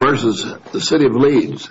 Leeds, versus the City of Leeds.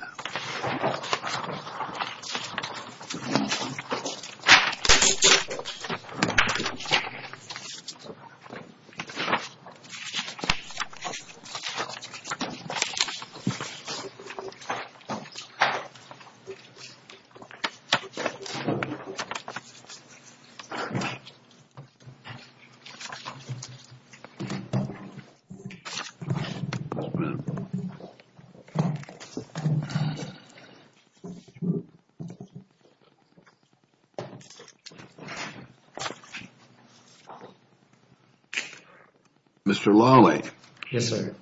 Mr. Lawley. Yes, sir.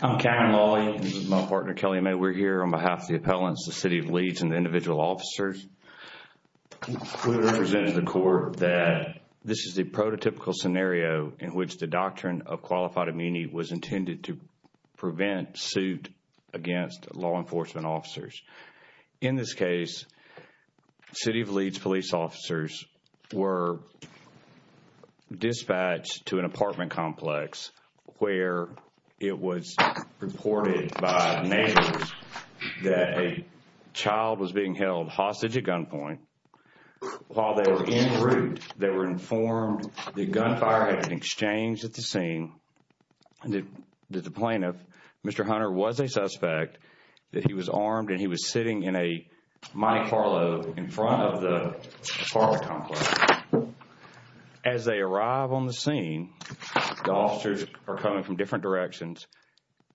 I'm Cameron Lawley. This is my partner, Kelly May. We're here on behalf of the appellants, the City of Leeds, and the individual officers. We represent the court that this is the prototypical scenario in which the doctrine of qualified suit against law enforcement officers. In this case, City of Leeds police officers were dispatched to an apartment complex where it was reported by neighbors that a child was being held hostage at gunpoint. While they were en route, they were informed that gunfire had been exchanged at the scene. The plaintiff, Mr. Hunter, was a suspect, that he was armed and he was sitting in a Monte Carlo in front of the apartment complex. As they arrive on the scene, the officers are coming from different directions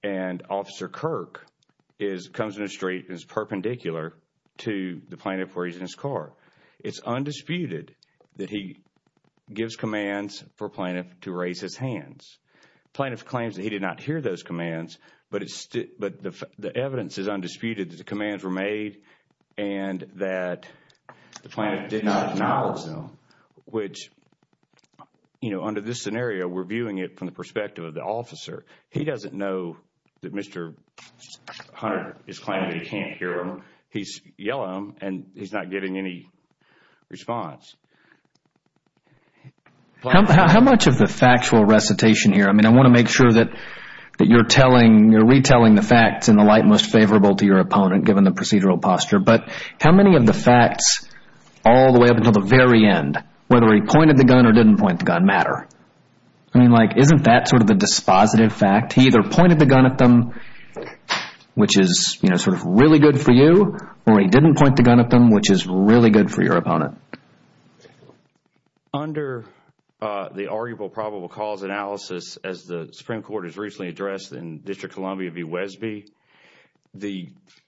and Officer Kirk comes in the street and is perpendicular to the plaintiff where he's in his car. It's undisputed that he gives commands for plaintiff to raise his hands. Plaintiff claims that he did not hear those commands, but the evidence is undisputed that the commands were made and that the plaintiff did not acknowledge them, which under this scenario, we're viewing it from the perspective of the officer. He doesn't know that Mr. Hunter is claiming that he can't hear them. He's yelling and he's not getting any response. How much of the factual recitation here, I want to make sure that you're retelling the facts in the light most favorable to your opponent given the procedural posture, but how many of the facts all the way up until the very end, whether he pointed the gun or didn't point the gun, matter? Isn't that sort of the dispositive fact? He either pointed the gun at them, which is sort of really good for you, or he didn't point the gun at them, which is really good for your opponent. Under the arguable probable cause analysis as the Supreme Court has recently addressed in District of Columbia v. Wesby,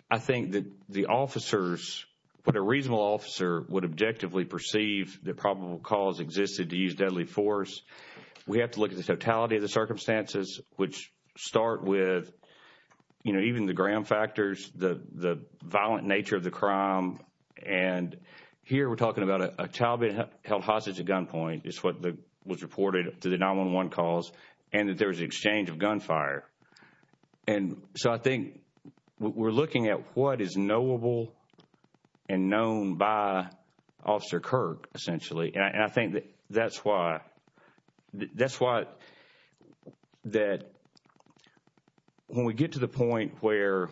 I think that the officers, what a reasonable officer would objectively perceive that probable cause existed to use deadly force, we have to look at the totality of the circumstances, which start with, you know, even the ground factors, the violent nature of the crime, and here we're talking about a child being held hostage at gunpoint is what was reported to the 911 calls, and that there was an exchange of gunfire. So I think we're looking at what is knowable and known by Officer Kirk, essentially, and I think that's why, that's why that when we get to the point where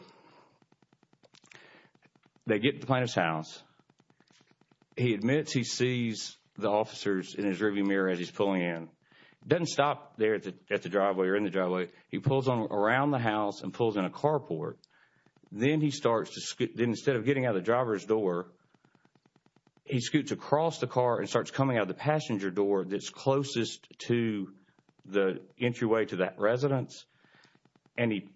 they get to the plaintiff's house, he admits he sees the officers in his rearview mirror as he's pulling in. He doesn't stop there at the driveway or in the driveway. He pulls on around the house and pulls in a carport. Then he starts to, instead of getting out of the driver's door, he scoots across the passenger door that's closest to the entryway to that residence, and he,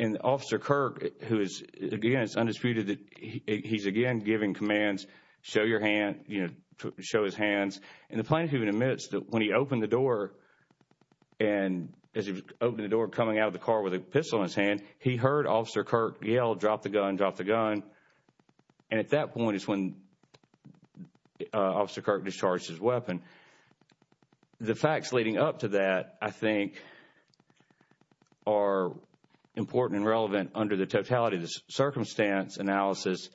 and Officer Kirk, who is, again, it's undisputed that he's, again, giving commands, show your hand, you know, show his hands, and the plaintiff even admits that when he opened the door, and as he opened the door, coming out of the car with a pistol in his hand, he heard Officer Kirk yell, drop the gun, drop the gun, and at that point is when Officer Kirk discharged his weapon. The facts leading up to that, I think, are important and relevant under the totality of the circumstance analysis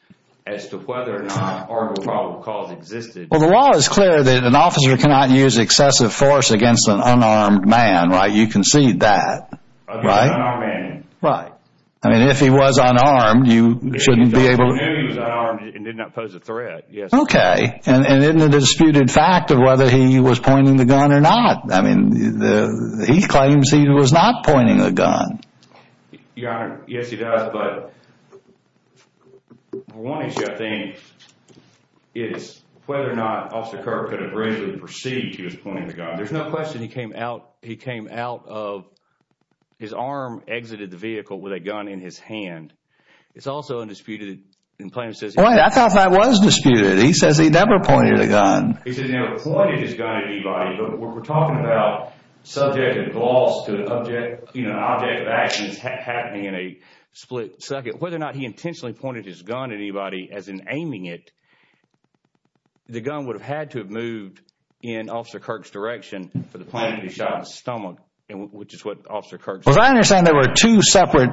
as to whether or not arbitral probable cause existed. Well, the law is clear that an officer cannot use excessive force against an unarmed man, right? You concede that, right? An unarmed man. Right. I mean, if he was unarmed, you shouldn't be able to... He knew he was unarmed and did not pose a threat, yes. Okay. And isn't it a disputed fact of whether he was pointing the gun or not? I mean, he claims he was not pointing the gun. Your Honor, yes, he does, but one issue, I think, is whether or not Officer Kirk could have reasonably perceived he was pointing the gun. There's no question he came out of...his arm exited the vehicle with a gun in his hand. It's also undisputed in plain... I thought that was disputed. He says he never pointed the gun. He says he never pointed his gun at anybody, but we're talking about subject of gloss to the object of actions happening in a split second. Whether or not he intentionally pointed his gun at anybody, as in aiming it, the gun would have had to have moved in Officer Kirk's direction for the point that he shot his stomach, which is what Officer Kirk said. But I understand there were two separate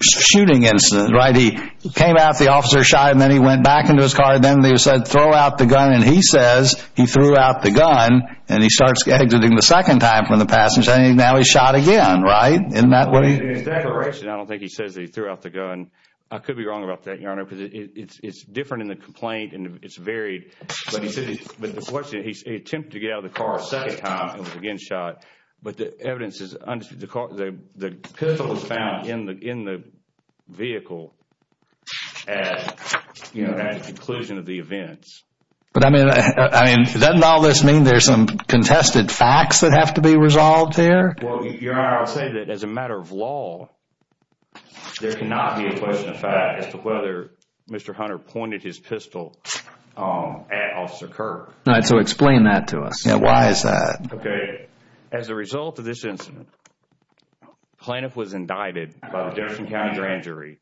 shooting incidents, right? He came out, the officer shot, and then he went back into his car, and then they said, throw out the gun, and he says he threw out the gun, and he starts exiting the second time from the passenger, and now he's shot again, right? Isn't that what he... In that direction, I don't think he says that he threw out the gun. I could be wrong about that, Your Honor, because it's different in the complaint, and it's varied, but he said he attempted to get out of the car a second time and was again shot, but the evidence is... The pistol was found in the vehicle at the conclusion of the events. But I mean, doesn't all this mean there's some contested facts that have to be resolved here? Well, Your Honor, I'll say that as a matter of law, there cannot be a question of fact as to whether Mr. Hunter pointed his pistol at Officer Kirk. All right, so explain that to us. Yeah, why is that? Okay. As a result of this incident, the plaintiff was indicted by the Jefferson County Grand Jury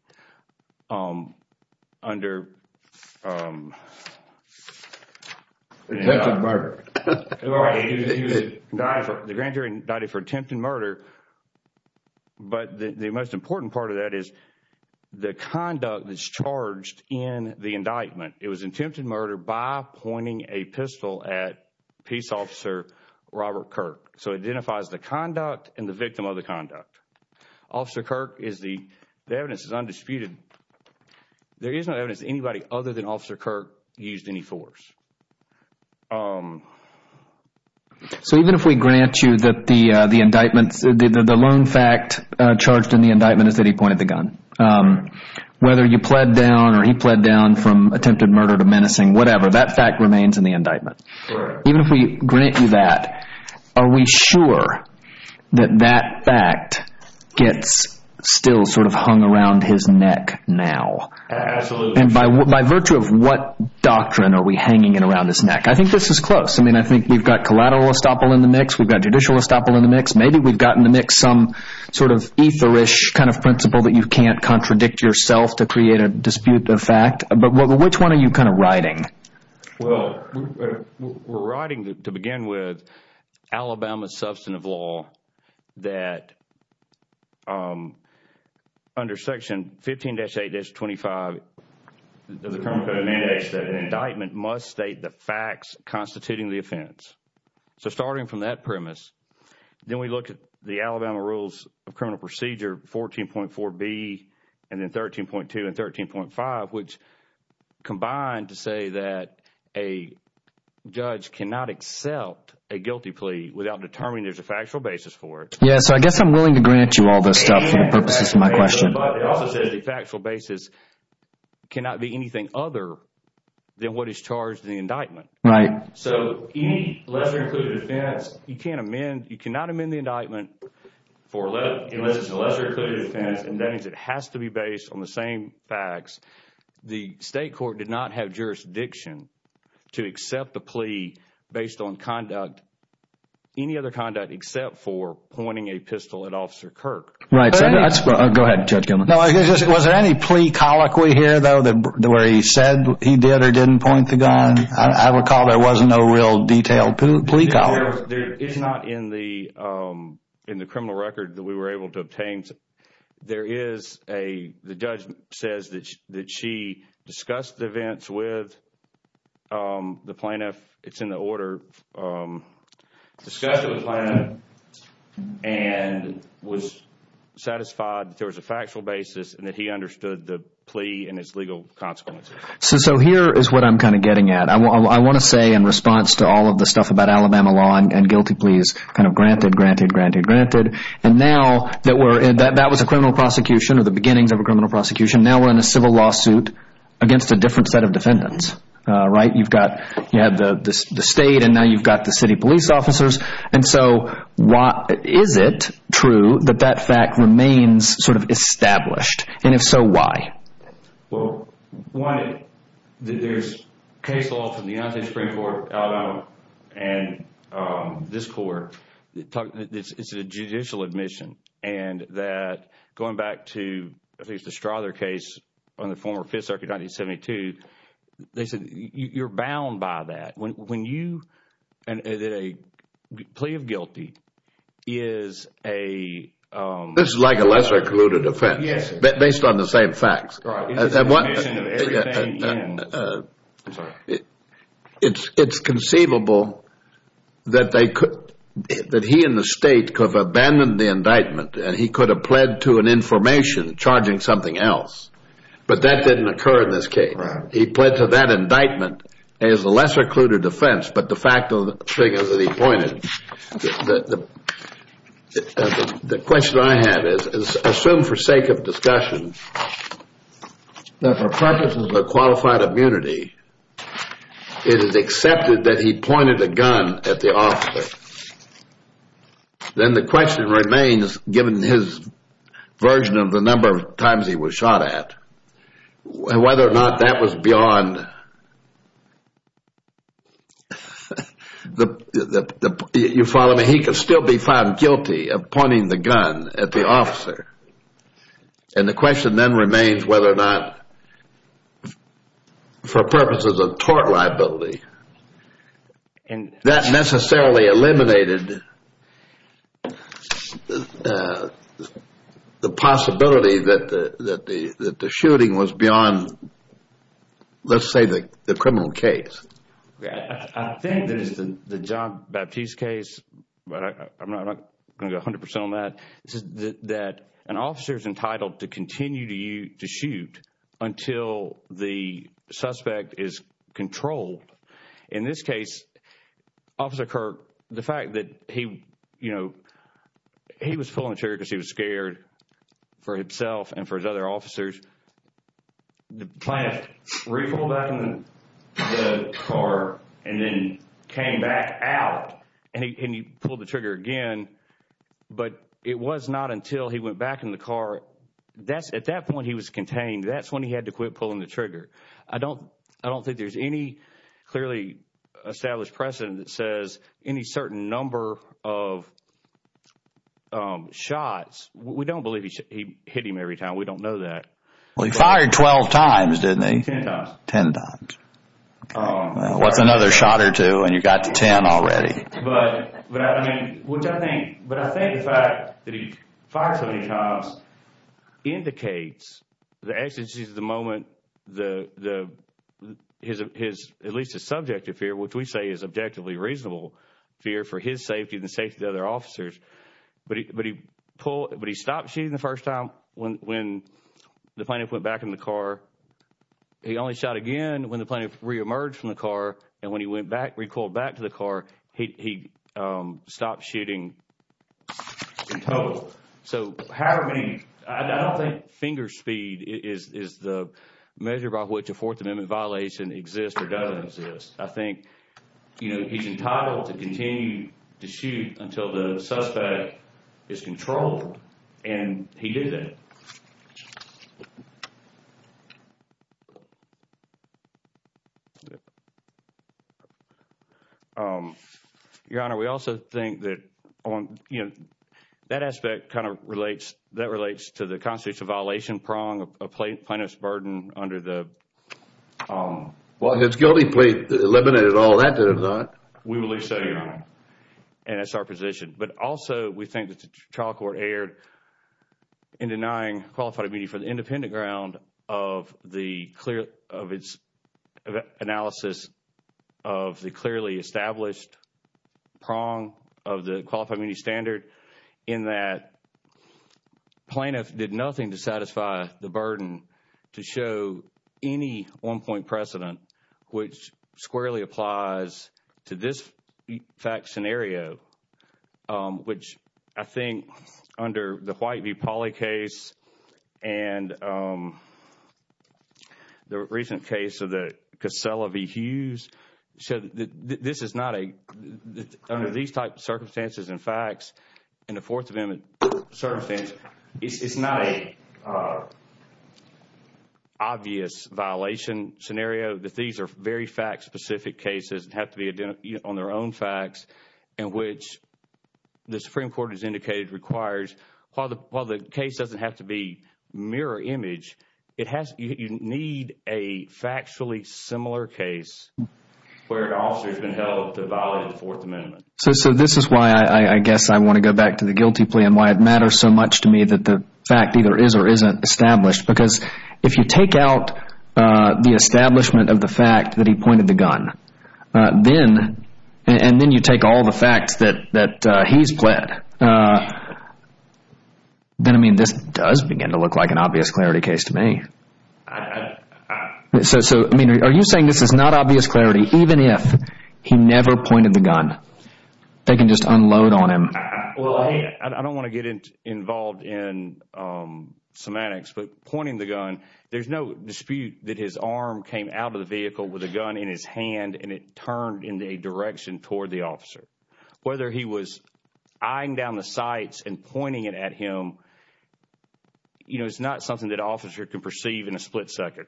under... Attempted murder. The Grand Jury indicted for attempted murder, but the most important part of that is the conduct that's charged in the indictment. It was attempted murder by pointing a pistol at Peace Officer Robert Kirk. So it identifies the conduct and the victim of the conduct. Officer Kirk is the... The evidence is undisputed. There is no evidence that anybody other than Officer Kirk used any force. So even if we grant you that the indictments... The lone fact charged in the indictment is that he pointed the gun. Whether you pled down or he pled down from attempted murder to menacing, whatever, that fact remains in the indictment. Even if we grant you that, are we sure that that fact gets still sort of hung around his neck now? Absolutely. And by virtue of what doctrine are we hanging it around his neck? I think this is close. I mean, I think we've got collateral estoppel in the mix. We've got judicial estoppel in the mix. Maybe we've gotten in the mix some sort of etherish kind of principle that you can't contradict yourself to create a dispute of fact. But which one are you kind of riding? Well, we're riding to begin with Alabama's substantive law that under Section 15-8-25 of the Terms and Conditions that an indictment must state the facts constituting the offense. So starting from that premise, then we look at the Alabama Rules of Criminal Procedure 14.4b and then 13.2 and 13.5, which combine to say that a judge cannot accept a guilty plea without determining there's a factual basis for it. Yeah, so I guess I'm willing to grant you all this stuff for the purposes of my question. But it also says the factual basis cannot be anything other than what is charged in the indictment. Right. So any lesser included offense, you cannot amend the indictment unless it's a lesser included offense. And that means it has to be based on the same facts. The state court did not have jurisdiction to accept the plea based on conduct, any other conduct except for pointing a pistol at Officer Kirk. Right. Go ahead, Judge Gilman. Was there any plea colloquy here, though, where he said he did or didn't point the gun? I recall there wasn't no real detailed plea colloquy. It's not in the criminal record that we were able to obtain. The judge says that she discussed the events with the plaintiff. It's in the order. Discussed it with the plaintiff and was satisfied that there was a factual basis and that he understood the plea and its legal consequences. So here is what I'm kind of getting at. I want to say in response to all of the stuff about Alabama law and guilty pleas kind of granted, granted, granted, granted. And now that was a criminal prosecution or the beginnings of a criminal prosecution. Now we're in a civil lawsuit against a different set of defendants. Right. You've got the state and now you've got the city police officers. And so is it true that that fact remains sort of established? And if so, why? Well, one, there's case law from the United States Supreme Court of Alabama and this court. It's a judicial admission and that going back to at least the Strother case on the former Fifth Circuit in 1972, they said you're bound by that. When you, a plea of guilty is a... This is like a lesser colluded offense. Yes. Based on the same facts. It's conceivable that they could, that he and the state could have abandoned the indictment and he could have pled to an information charging something else. But that didn't occur in this case. He pled to that indictment as a lesser colluded offense. But the fact of the thing is that he pointed... The question I have is, assume for sake of discussion, that for purposes of qualified immunity, it is accepted that he pointed a gun at the officer. Then the question remains, given his version of the number of times he was shot at, whether or not that was beyond... You follow me? He could still be found guilty of pointing the gun at the officer. And the question then remains whether or not, for purposes of tort liability, that necessarily eliminated the possibility that the shooting was beyond, let's say, the criminal case. I think that in the John Baptiste case, but I'm not going to go 100 percent on that, that an officer is entitled to continue to shoot until the suspect is controlled. In this case, Officer Kirk, the fact that he was pulling the trigger because he was scared for himself and for his other officers, the plaintiff re-pulled back on the car and then came back out and he pulled the trigger again. But it was not until he went back in the car... At that point, he was contained. That's when he had to quit pulling the trigger. I don't think there's any clearly established precedent that says any certain number of shots... We don't believe he hit him every time. We don't know that. Well, he fired 12 times, didn't he? Ten times. Ten times. What's another shot or two and you got to ten already? Which I think... But I think the fact that he fired so many times indicates the exigencies of the moment, at least his subjective fear, which we say is objectively reasonable fear for his safety and the safety of the other officers. But he stopped shooting the first time when the plaintiff went back in the car. He only shot again when the plaintiff re-emerged from the car. And when he recalled back to the car, he stopped shooting in total. So, however many... I don't think finger speed is the measure by which a Fourth Amendment violation exists or doesn't exist. I think, you know, he's entitled to continue to shoot until the suspect is controlled and he did that. Your Honor, we also think that, you know, that aspect kind of relates... that relates to the constitutional violation prong of plaintiff's burden under the... Well, his guilty plea eliminated all that, did it not? We believe so, Your Honor, and that's our position. But also, we think that the trial court erred in denying qualified immunity for the independent ground of the clear... of its analysis of the clearly established prong of the Qualified Immunity Standard, in that plaintiff did nothing to satisfy the burden to show any one-point precedent, which squarely applies to this fact scenario, which I think under the White v. Pauley case and the recent case of the Casella v. Hughes... So, this is not a... under these type of circumstances and facts, in a Fourth Amendment circumstance, it's not a obvious violation scenario. These are very fact-specific cases and have to be on their own facts in which the Supreme Court has indicated requires... While the case doesn't have to be mirror image, it has... you need a factually similar case where an officer has been held to violate the Fourth Amendment. So, this is why I guess I want to go back to the guilty plea and why it matters so much to me that the fact either is or isn't established. Because, if you take out the establishment of the fact that he pointed the gun, then... and then you take all the facts that he's pled, then, I mean, this does begin to look like an obvious clarity case to me. So, I mean, are you saying this is not obvious clarity even if he never pointed the gun? They can just unload on him. Well, I don't want to get involved in semantics, but pointing the gun, there's no dispute that his arm came out of the vehicle with a gun in his hand and it turned in a direction toward the officer. Whether he was eyeing down the sights and pointing it at him, you know, it's not something that an officer can perceive in a split second.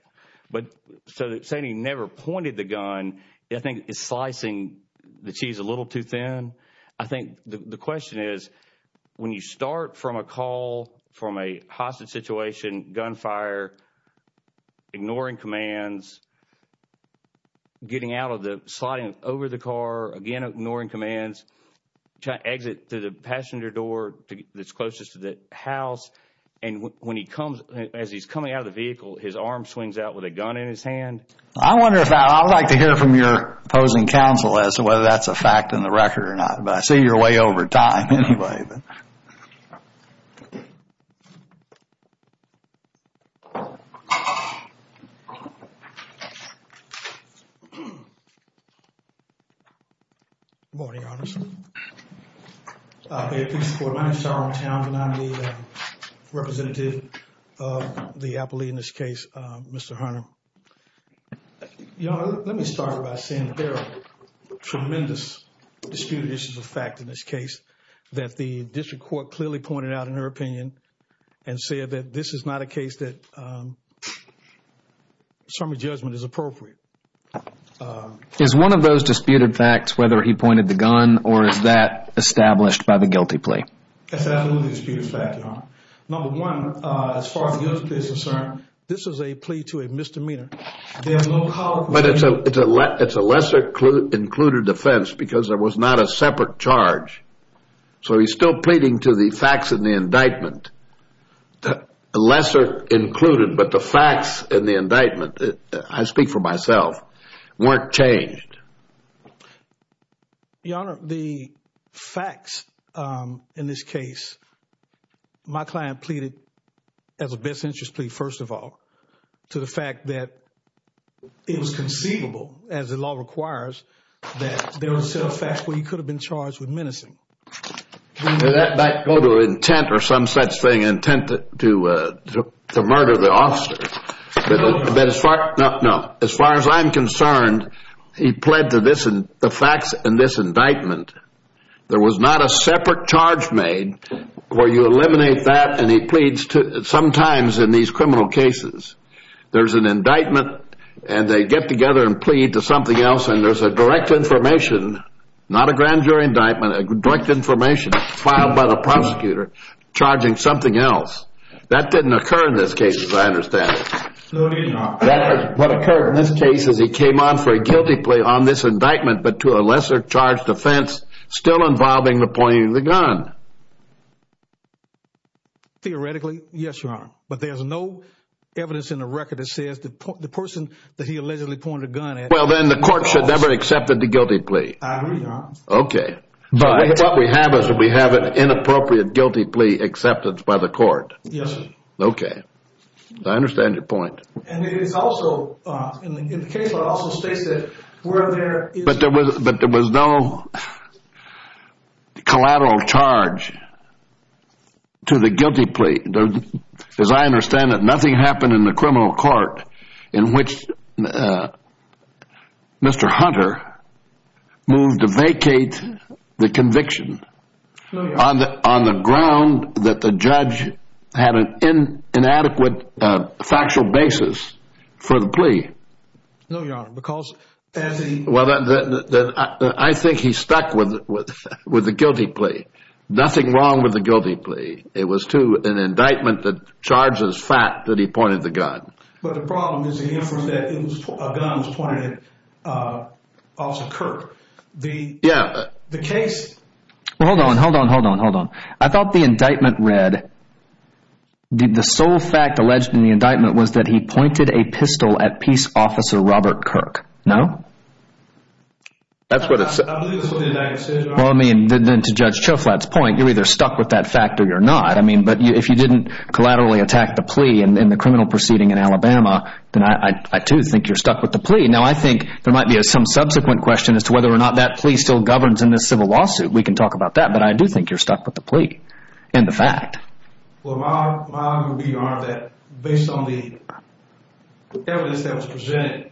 But, so saying he never pointed the gun, I think it's slicing the cheese a little too thin. I think the question is when you start from a call from a hostage situation, gunfire, ignoring commands, getting out of the... sliding over the car, again ignoring commands, trying to exit through the passenger door that's closest to the house, and when he comes... as he's coming out of the vehicle, his arm swings out with a gun in his hand. I wonder if I... I'd like to hear from your opposing counsel as to whether that's a fact in the record or not, but I see you're way over time anyway. Good morning, Your Honor. May it please the Court, my name is Charles Towns and I'm the representative of the appellee in this case, Mr. Hunter. Your Honor, let me start by saying there are tremendous disputed issues of fact in this case that the district court clearly pointed out in her opinion... and said that this is not a case that some judgment is appropriate. Is one of those disputed facts whether he pointed the gun or is that established by the guilty plea? That's absolutely a disputed fact, Your Honor. Number one, as far as the guilty plea is concerned, this is a plea to a misdemeanor. But it's a lesser included offense because there was not a separate charge, so he's still pleading to the facts in the indictment. Lesser included, but the facts in the indictment, I speak for myself, weren't changed. Your Honor, the facts in this case, my client pleaded as a best interest plea, first of all, to the fact that it was conceivable, as the law requires, that there were some facts where he could have been charged with menacing. Did that go to intent or some such thing, intent to murder the officer? No. As far as I'm concerned, he pled to the facts in this indictment. There was not a separate charge made where you eliminate that and he pleads to... Sometimes in these criminal cases, there's an indictment and they get together and plead to something else and there's a direct information, not a grand jury indictment, a direct information filed by the prosecutor charging something else. That didn't occur in this case, as I understand it. No, Your Honor. What occurred in this case is he came on for a guilty plea on this indictment, but to a lesser charged offense still involving the pointing of the gun. Theoretically, yes, Your Honor. But there's no evidence in the record that says the person that he allegedly pointed a gun at... I agree, Your Honor. Okay. But what we have is we have an inappropriate guilty plea acceptance by the court. Yes, sir. Okay. I understand your point. And it is also, in the case law, it also states that where there is... the conviction. No, Your Honor. On the ground that the judge had an inadequate factual basis for the plea. No, Your Honor, because as he... Well, I think he stuck with the guilty plea. Nothing wrong with the guilty plea. It was to an indictment that charges fact that he pointed the gun. But the problem is the inference that a gun was pointed at Officer Kirk. Yeah. The case... Well, hold on, hold on, hold on, hold on. I thought the indictment read... the sole fact alleged in the indictment was that he pointed a pistol at Peace Officer Robert Kirk. No? I believe that's what the indictment said, Your Honor. Well, I mean, then to Judge Choflat's point, you're either stuck with that fact or you're not. I mean, but if you didn't collaterally attack the plea in the criminal proceeding in Alabama, then I, too, think you're stuck with the plea. Now, I think there might be some subsequent question as to whether or not that plea still governs in this civil lawsuit. We can talk about that. But I do think you're stuck with the plea and the fact. Well, my argument would be, Your Honor, that based on the evidence that was presented,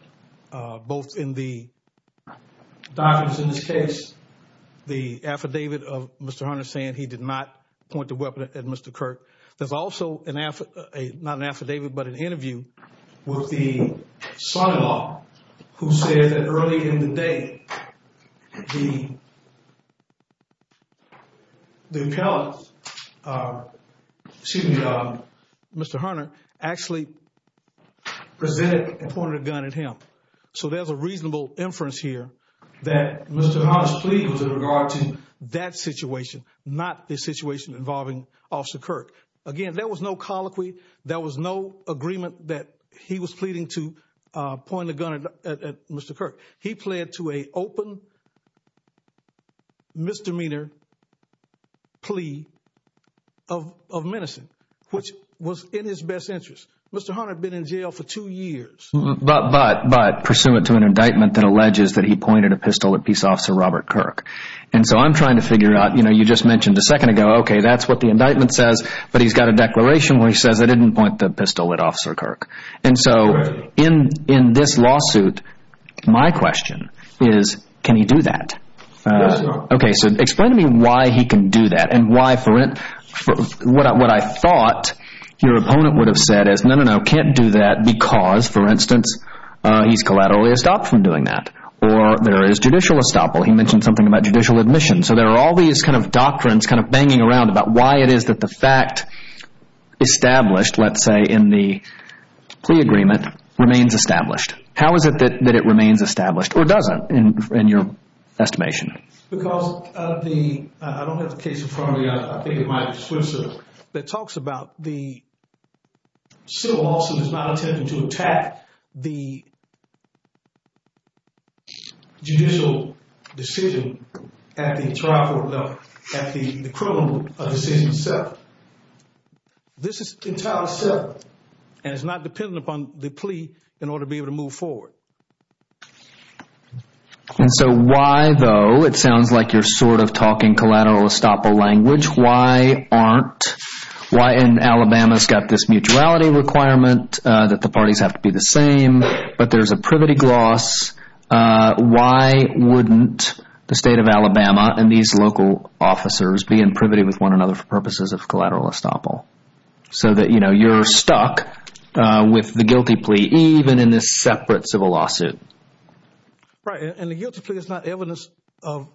both in the documents in this case, the affidavit of Mr. Hunter saying he did not point the weapon at Mr. Kirk. There's also an affidavit, not an affidavit, but an interview with the son-in-law who said that early in the day, the appellant, excuse me, Mr. Hunter, actually presented and pointed a gun at him. So there's a reasonable inference here that Mr. Hunter's plea was in regard to that situation, not the situation involving Officer Kirk. Again, there was no colloquy. There was no agreement that he was pleading to point a gun at Mr. Kirk. He pled to an open misdemeanor plea of menacing, which was in his best interest. Mr. Hunter had been in jail for two years. But pursuant to an indictment that alleges that he pointed a pistol at Peace Officer Robert Kirk. And so I'm trying to figure out, you know, you just mentioned a second ago, okay, that's what the indictment says. But he's got a declaration where he says, I didn't point the pistol at Officer Kirk. And so in this lawsuit, my question is, can he do that? Yes, Your Honor. Explain to me why he can do that and why for what I thought your opponent would have said is, no, no, no. Can't do that because, for instance, he's collaterally stopped from doing that. Or there is judicial estoppel. He mentioned something about judicial admission. So there are all these kind of doctrines kind of banging around about why it is that the fact established, let's say, in the plea agreement remains established. How is it that it remains established or doesn't in your estimation? Because of the, I don't have the case in front of me. I think it might be Switzer, that talks about the civil lawsuit is not attempting to attack the judicial decision at the trial court level, at the criminal decision itself. This is entirely separate. And it's not dependent upon the plea in order to be able to move forward. And so why, though, it sounds like you're sort of talking collateral estoppel language. Why aren't, why in Alabama's got this mutuality requirement that the parties have to be the same, but there's a privity gloss. Why wouldn't the state of Alabama and these local officers be in privity with one another for purposes of collateral estoppel? So that, you know, you're stuck with the guilty plea, even in this separate civil lawsuit. Right. And the guilty plea is not evidence of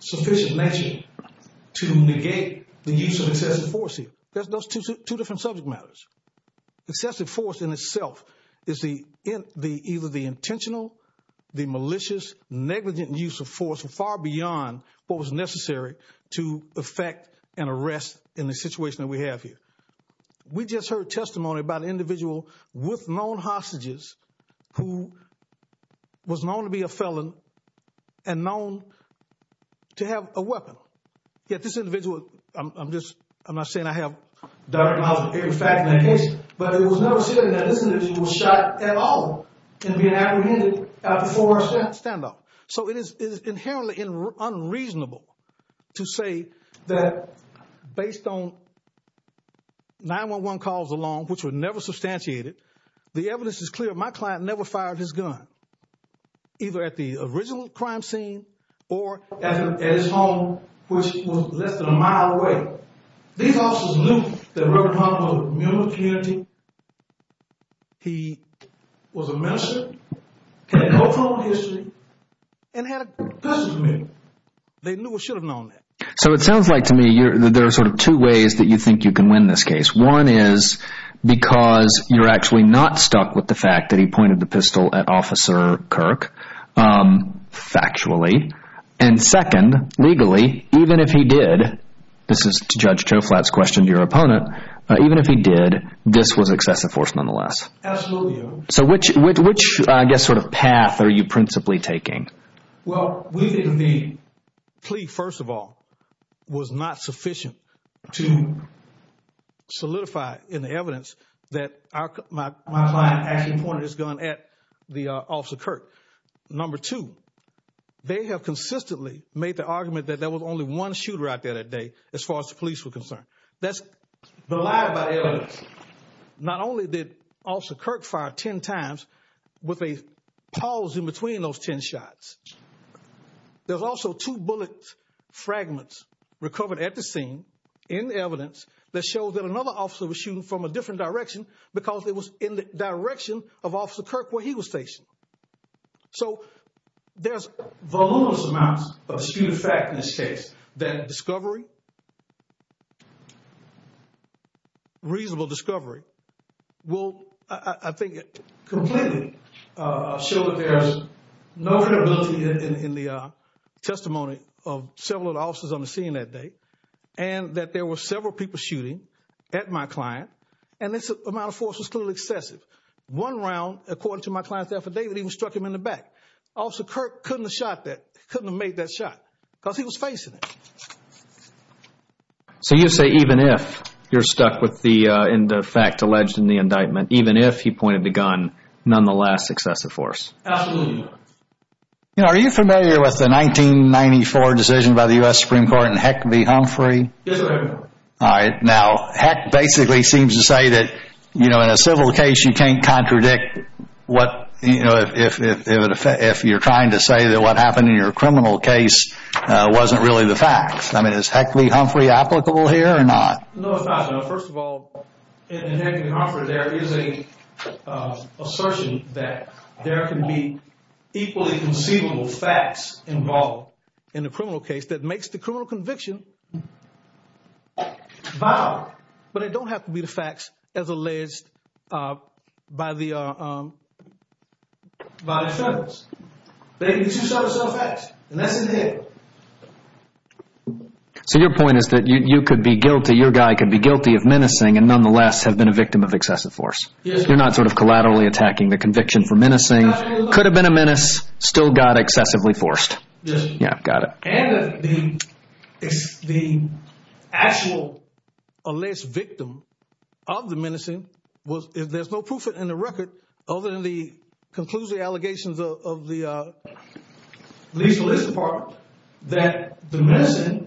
sufficient measure to negate the use of excessive force here. There's those two different subject matters. Excessive force in itself is the the either the intentional, the malicious, negligent use of force far beyond what was necessary to effect an arrest in the situation that we have here. We just heard testimony about an individual with known hostages who was known to be a felon and known to have a weapon. Yet this individual, I'm just I'm not saying I have direct knowledge of every fact in that case. But it was never said that this individual was shot at all and being apprehended before standoff. So it is inherently unreasonable to say that based on 9-1-1 calls along, which were never substantiated, the evidence is clear. My client never fired his gun, either at the original crime scene or at his home, which was less than a mile away. These officers knew that Reprendent Hunter was a member of the community. He was a minister, had no formal history, and had a customs union. They knew or should have known that. So it sounds like to me there are sort of two ways that you think you can win this case. One is because you're actually not stuck with the fact that he pointed the pistol at Officer Kirk, factually. And second, legally, even if he did, this is Judge Choflat's question to your opponent, even if he did, this was excessive force nonetheless. Absolutely. So which I guess sort of path are you principally taking? Well, we think the plea, first of all, was not sufficient to solidify in the evidence that my client actually pointed his gun at the Officer Kirk. Number two, they have consistently made the argument that there was only one shooter out there that day as far as the police were concerned. That's the lie about evidence. Not only did Officer Kirk fire ten times with a pause in between those ten shots, there's also two bullet fragments recovered at the scene in the evidence that showed that another officer was shooting from a different direction because it was in the direction of Officer Kirk where he was stationed. So there's voluminous amounts of disputed fact in this case that discovery, reasonable discovery, will, I think, completely show that there's no credibility in the testimony of several of the officers on the scene that day and that there were several people shooting at my client and this amount of force was clearly excessive. One round, according to my client's affidavit, even struck him in the back. Officer Kirk couldn't have made that shot because he was facing it. So you say even if you're stuck in the fact alleged in the indictment, even if he pointed the gun, nonetheless excessive force. Absolutely. Are you familiar with the 1994 decision by the U.S. Supreme Court in Heck v. Humphrey? Yes, sir. All right. Now, Heck basically seems to say that, you know, in a civil case you can't contradict what, you know, if you're trying to say that what happened in your criminal case wasn't really the fact. I mean, is Heck v. Humphrey applicable here or not? No, it's not. First of all, in Heck v. Humphrey there is an assertion that there can be equally conceivable facts involved in a criminal case that makes the criminal conviction valid. But it don't have to be the facts as alleged by the defendants. They can just show the facts and that's it. So your point is that you could be guilty, your guy could be guilty of menacing and nonetheless have been a victim of excessive force. You're not sort of collaterally attacking the conviction for menacing. Could have been a menace, still got excessively forced. Yes. Yeah, got it. And the actual alleged victim of the menacing was, if there's no proof in the record, other than the conclusive allegations of the police department, that the menacing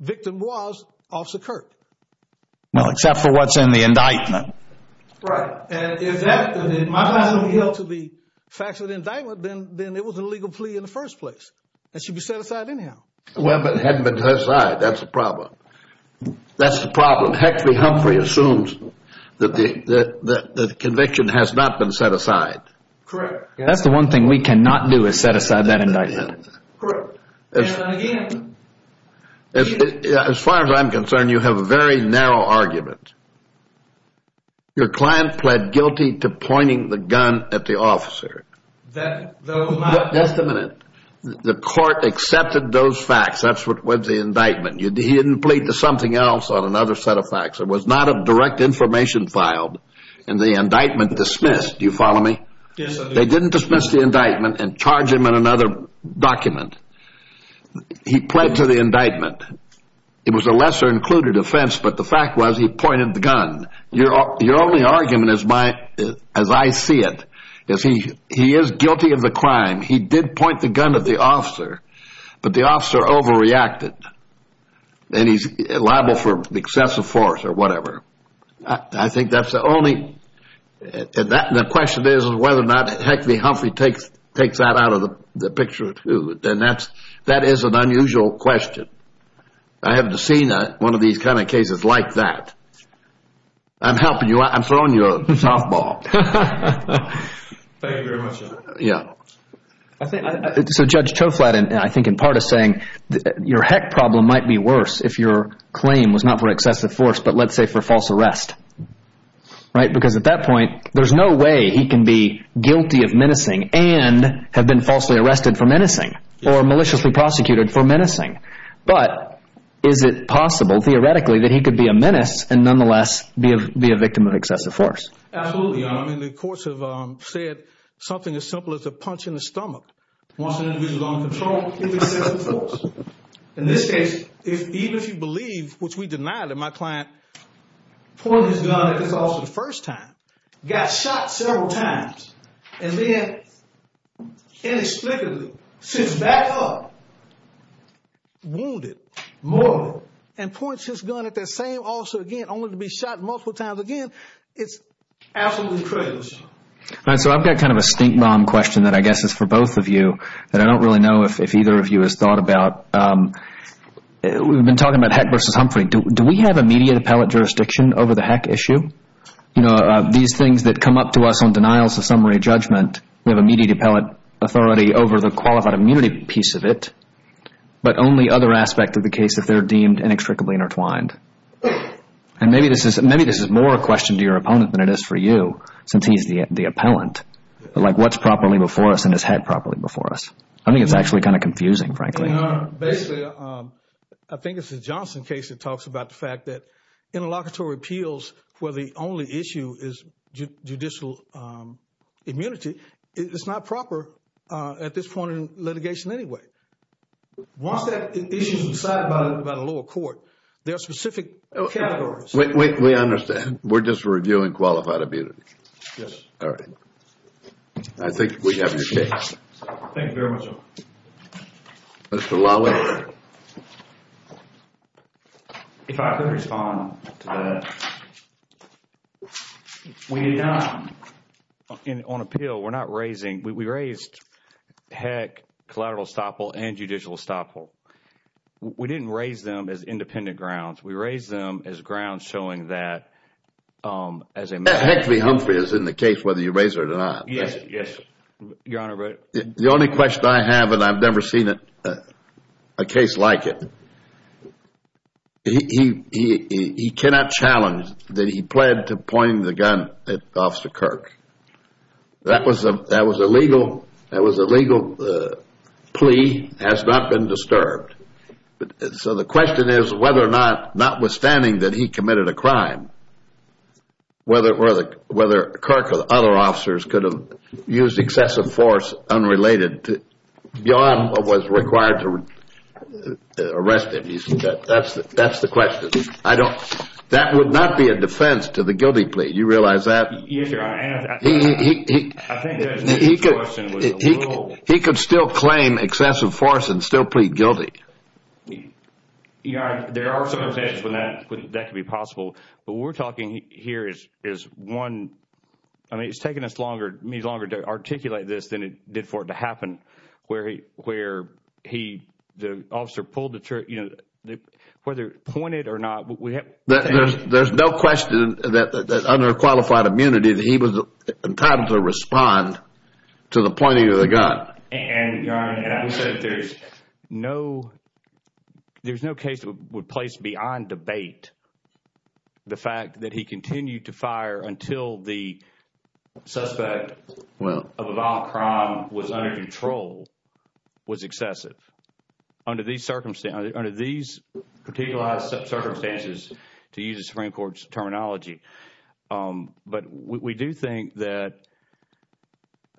victim was Officer Kirk. Well, except for what's in the indictment. Right. Right. And if my client is going to be held to the facts of the indictment, then it was an illegal plea in the first place. It should be set aside anyhow. Well, but it hadn't been set aside. That's the problem. That's the problem. Heck v. Humphrey assumes that the conviction has not been set aside. Correct. That's the one thing we cannot do is set aside that indictment. Correct. As far as I'm concerned, you have a very narrow argument. Your client pled guilty to pointing the gun at the officer. That was not. Just a minute. The court accepted those facts. That's what the indictment. He didn't plead to something else on another set of facts. There was not a direct information filed, and the indictment dismissed. Do you follow me? Yes, I do. They didn't dismiss the indictment and charge him in another document. He pled to the indictment. It was a lesser-included offense, but the fact was he pointed the gun. Your only argument, as I see it, is he is guilty of the crime. He did point the gun at the officer, but the officer overreacted, and he's liable for excessive force or whatever. I think that's the only. The question is whether or not heck v. Humphrey takes that out of the picture, too. That is an unusual question. I haven't seen one of these kind of cases like that. I'm helping you. I'm throwing you a softball. Thank you very much, John. Yeah. So Judge Toflatin, I think, in part is saying your heck problem might be worse if your claim was not for excessive force but, let's say, for false arrest, right? Because at that point, there's no way he can be guilty of menacing and have been falsely arrested for menacing or maliciously prosecuted for menacing. But is it possible, theoretically, that he could be a menace and nonetheless be a victim of excessive force? Absolutely. The courts have said something as simple as a punch in the stomach. Once an individual is under control, it's excessive force. In this case, even if you believe, which we denied, that my client pointed his gun at this officer the first time, got shot several times, and then inexplicably sits back up, wounded, murdered, and points his gun at that same officer again, only to be shot multiple times again, it's absolutely crazy. All right. So I've got kind of a stink bomb question that I guess is for both of you that I don't really know if either of you has thought about. We've been talking about Heck v. Humphrey. Do we have immediate appellate jurisdiction over the Heck issue? These things that come up to us on denials of summary judgment, we have immediate appellate authority over the qualified immunity piece of it, but only other aspects of the case if they're deemed inextricably intertwined. And maybe this is more a question to your opponent than it is for you, since he's the appellant. Like what's properly before us and is head properly before us? I think it's actually kind of confusing, frankly. Basically, I think it's the Johnson case that talks about the fact that in interlocutory appeals where the only issue is judicial immunity, it's not proper at this point in litigation anyway. Once that issue is decided by the lower court, there are specific categories. Wait, wait. We understand. We're just reviewing qualified immunity. Yes. All right. I think we have your case. Thank you very much. Mr. Lawley? Yes, sir. If I could respond to that. We did not, on appeal, we're not raising. We raised, heck, collateral estoppel and judicial estoppel. We didn't raise them as independent grounds. We raised them as grounds showing that as a matter of fact. Hectory Humphrey is in the case whether you raise it or not. Yes, yes. Your Honor. The only question I have, and I've never seen a case like it, he cannot challenge that he pled to point the gun at Officer Kirk. That was a legal plea, has not been disturbed. So the question is whether or not, notwithstanding that he committed a crime, whether Kirk or other officers could have used excessive force unrelated beyond what was required to arrest him. That's the question. That would not be a defense to the guilty plea. Do you realize that? Yes, Your Honor. He could still claim excessive force and still plead guilty. Your Honor, there are circumstances when that could be possible. What we're talking here is one, I mean, it's taken us longer, it means longer to articulate this than it did for it to happen, where he, the officer pulled the trigger, whether pointed or not. There's no question that under qualified immunity that he was entitled to respond to the pointing of the gun. And, Your Honor, there's no case that would place beyond debate the fact that he continued to fire until the suspect of a violent crime was under control was excessive. Under these particular circumstances, to use the Supreme Court's terminology, but we do think that,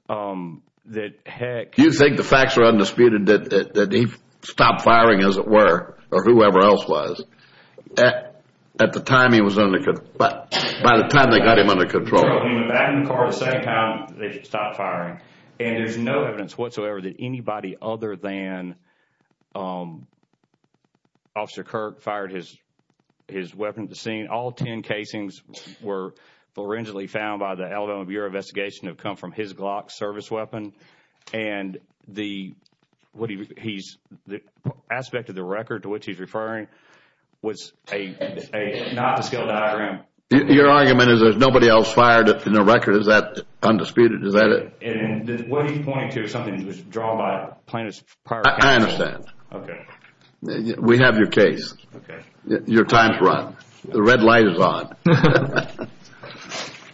heck. You think the facts are undisputed that he stopped firing, as it were, or whoever else was, at the time he was under control, by the time they got him under control. When he went back in the car the same time, they stopped firing. And there's no evidence whatsoever that anybody other than Officer Kirk fired his weapon at the scene. All ten casings were originally found by the Alabama Bureau of Investigation have come from his Glock service weapon. And the aspect of the record to which he's referring was not a skilled diagram. Your argument is there's nobody else fired in the record. Is that undisputed? Is that it? What he's pointing to is something that was drawn by plaintiff's prior counsel. I understand. We have your case. Your time has run. The red light is on.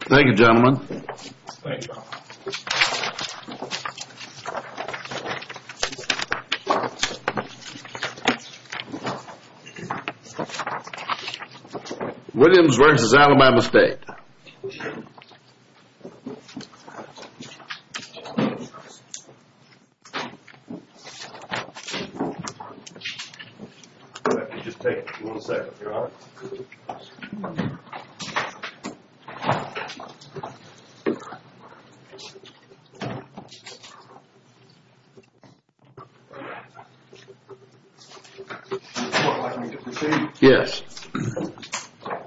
Thank you, gentlemen. Thank you. Williams versus Alabama State. Thank you. All right, we'll just take one second, if you don't mind. Thank you. Yes.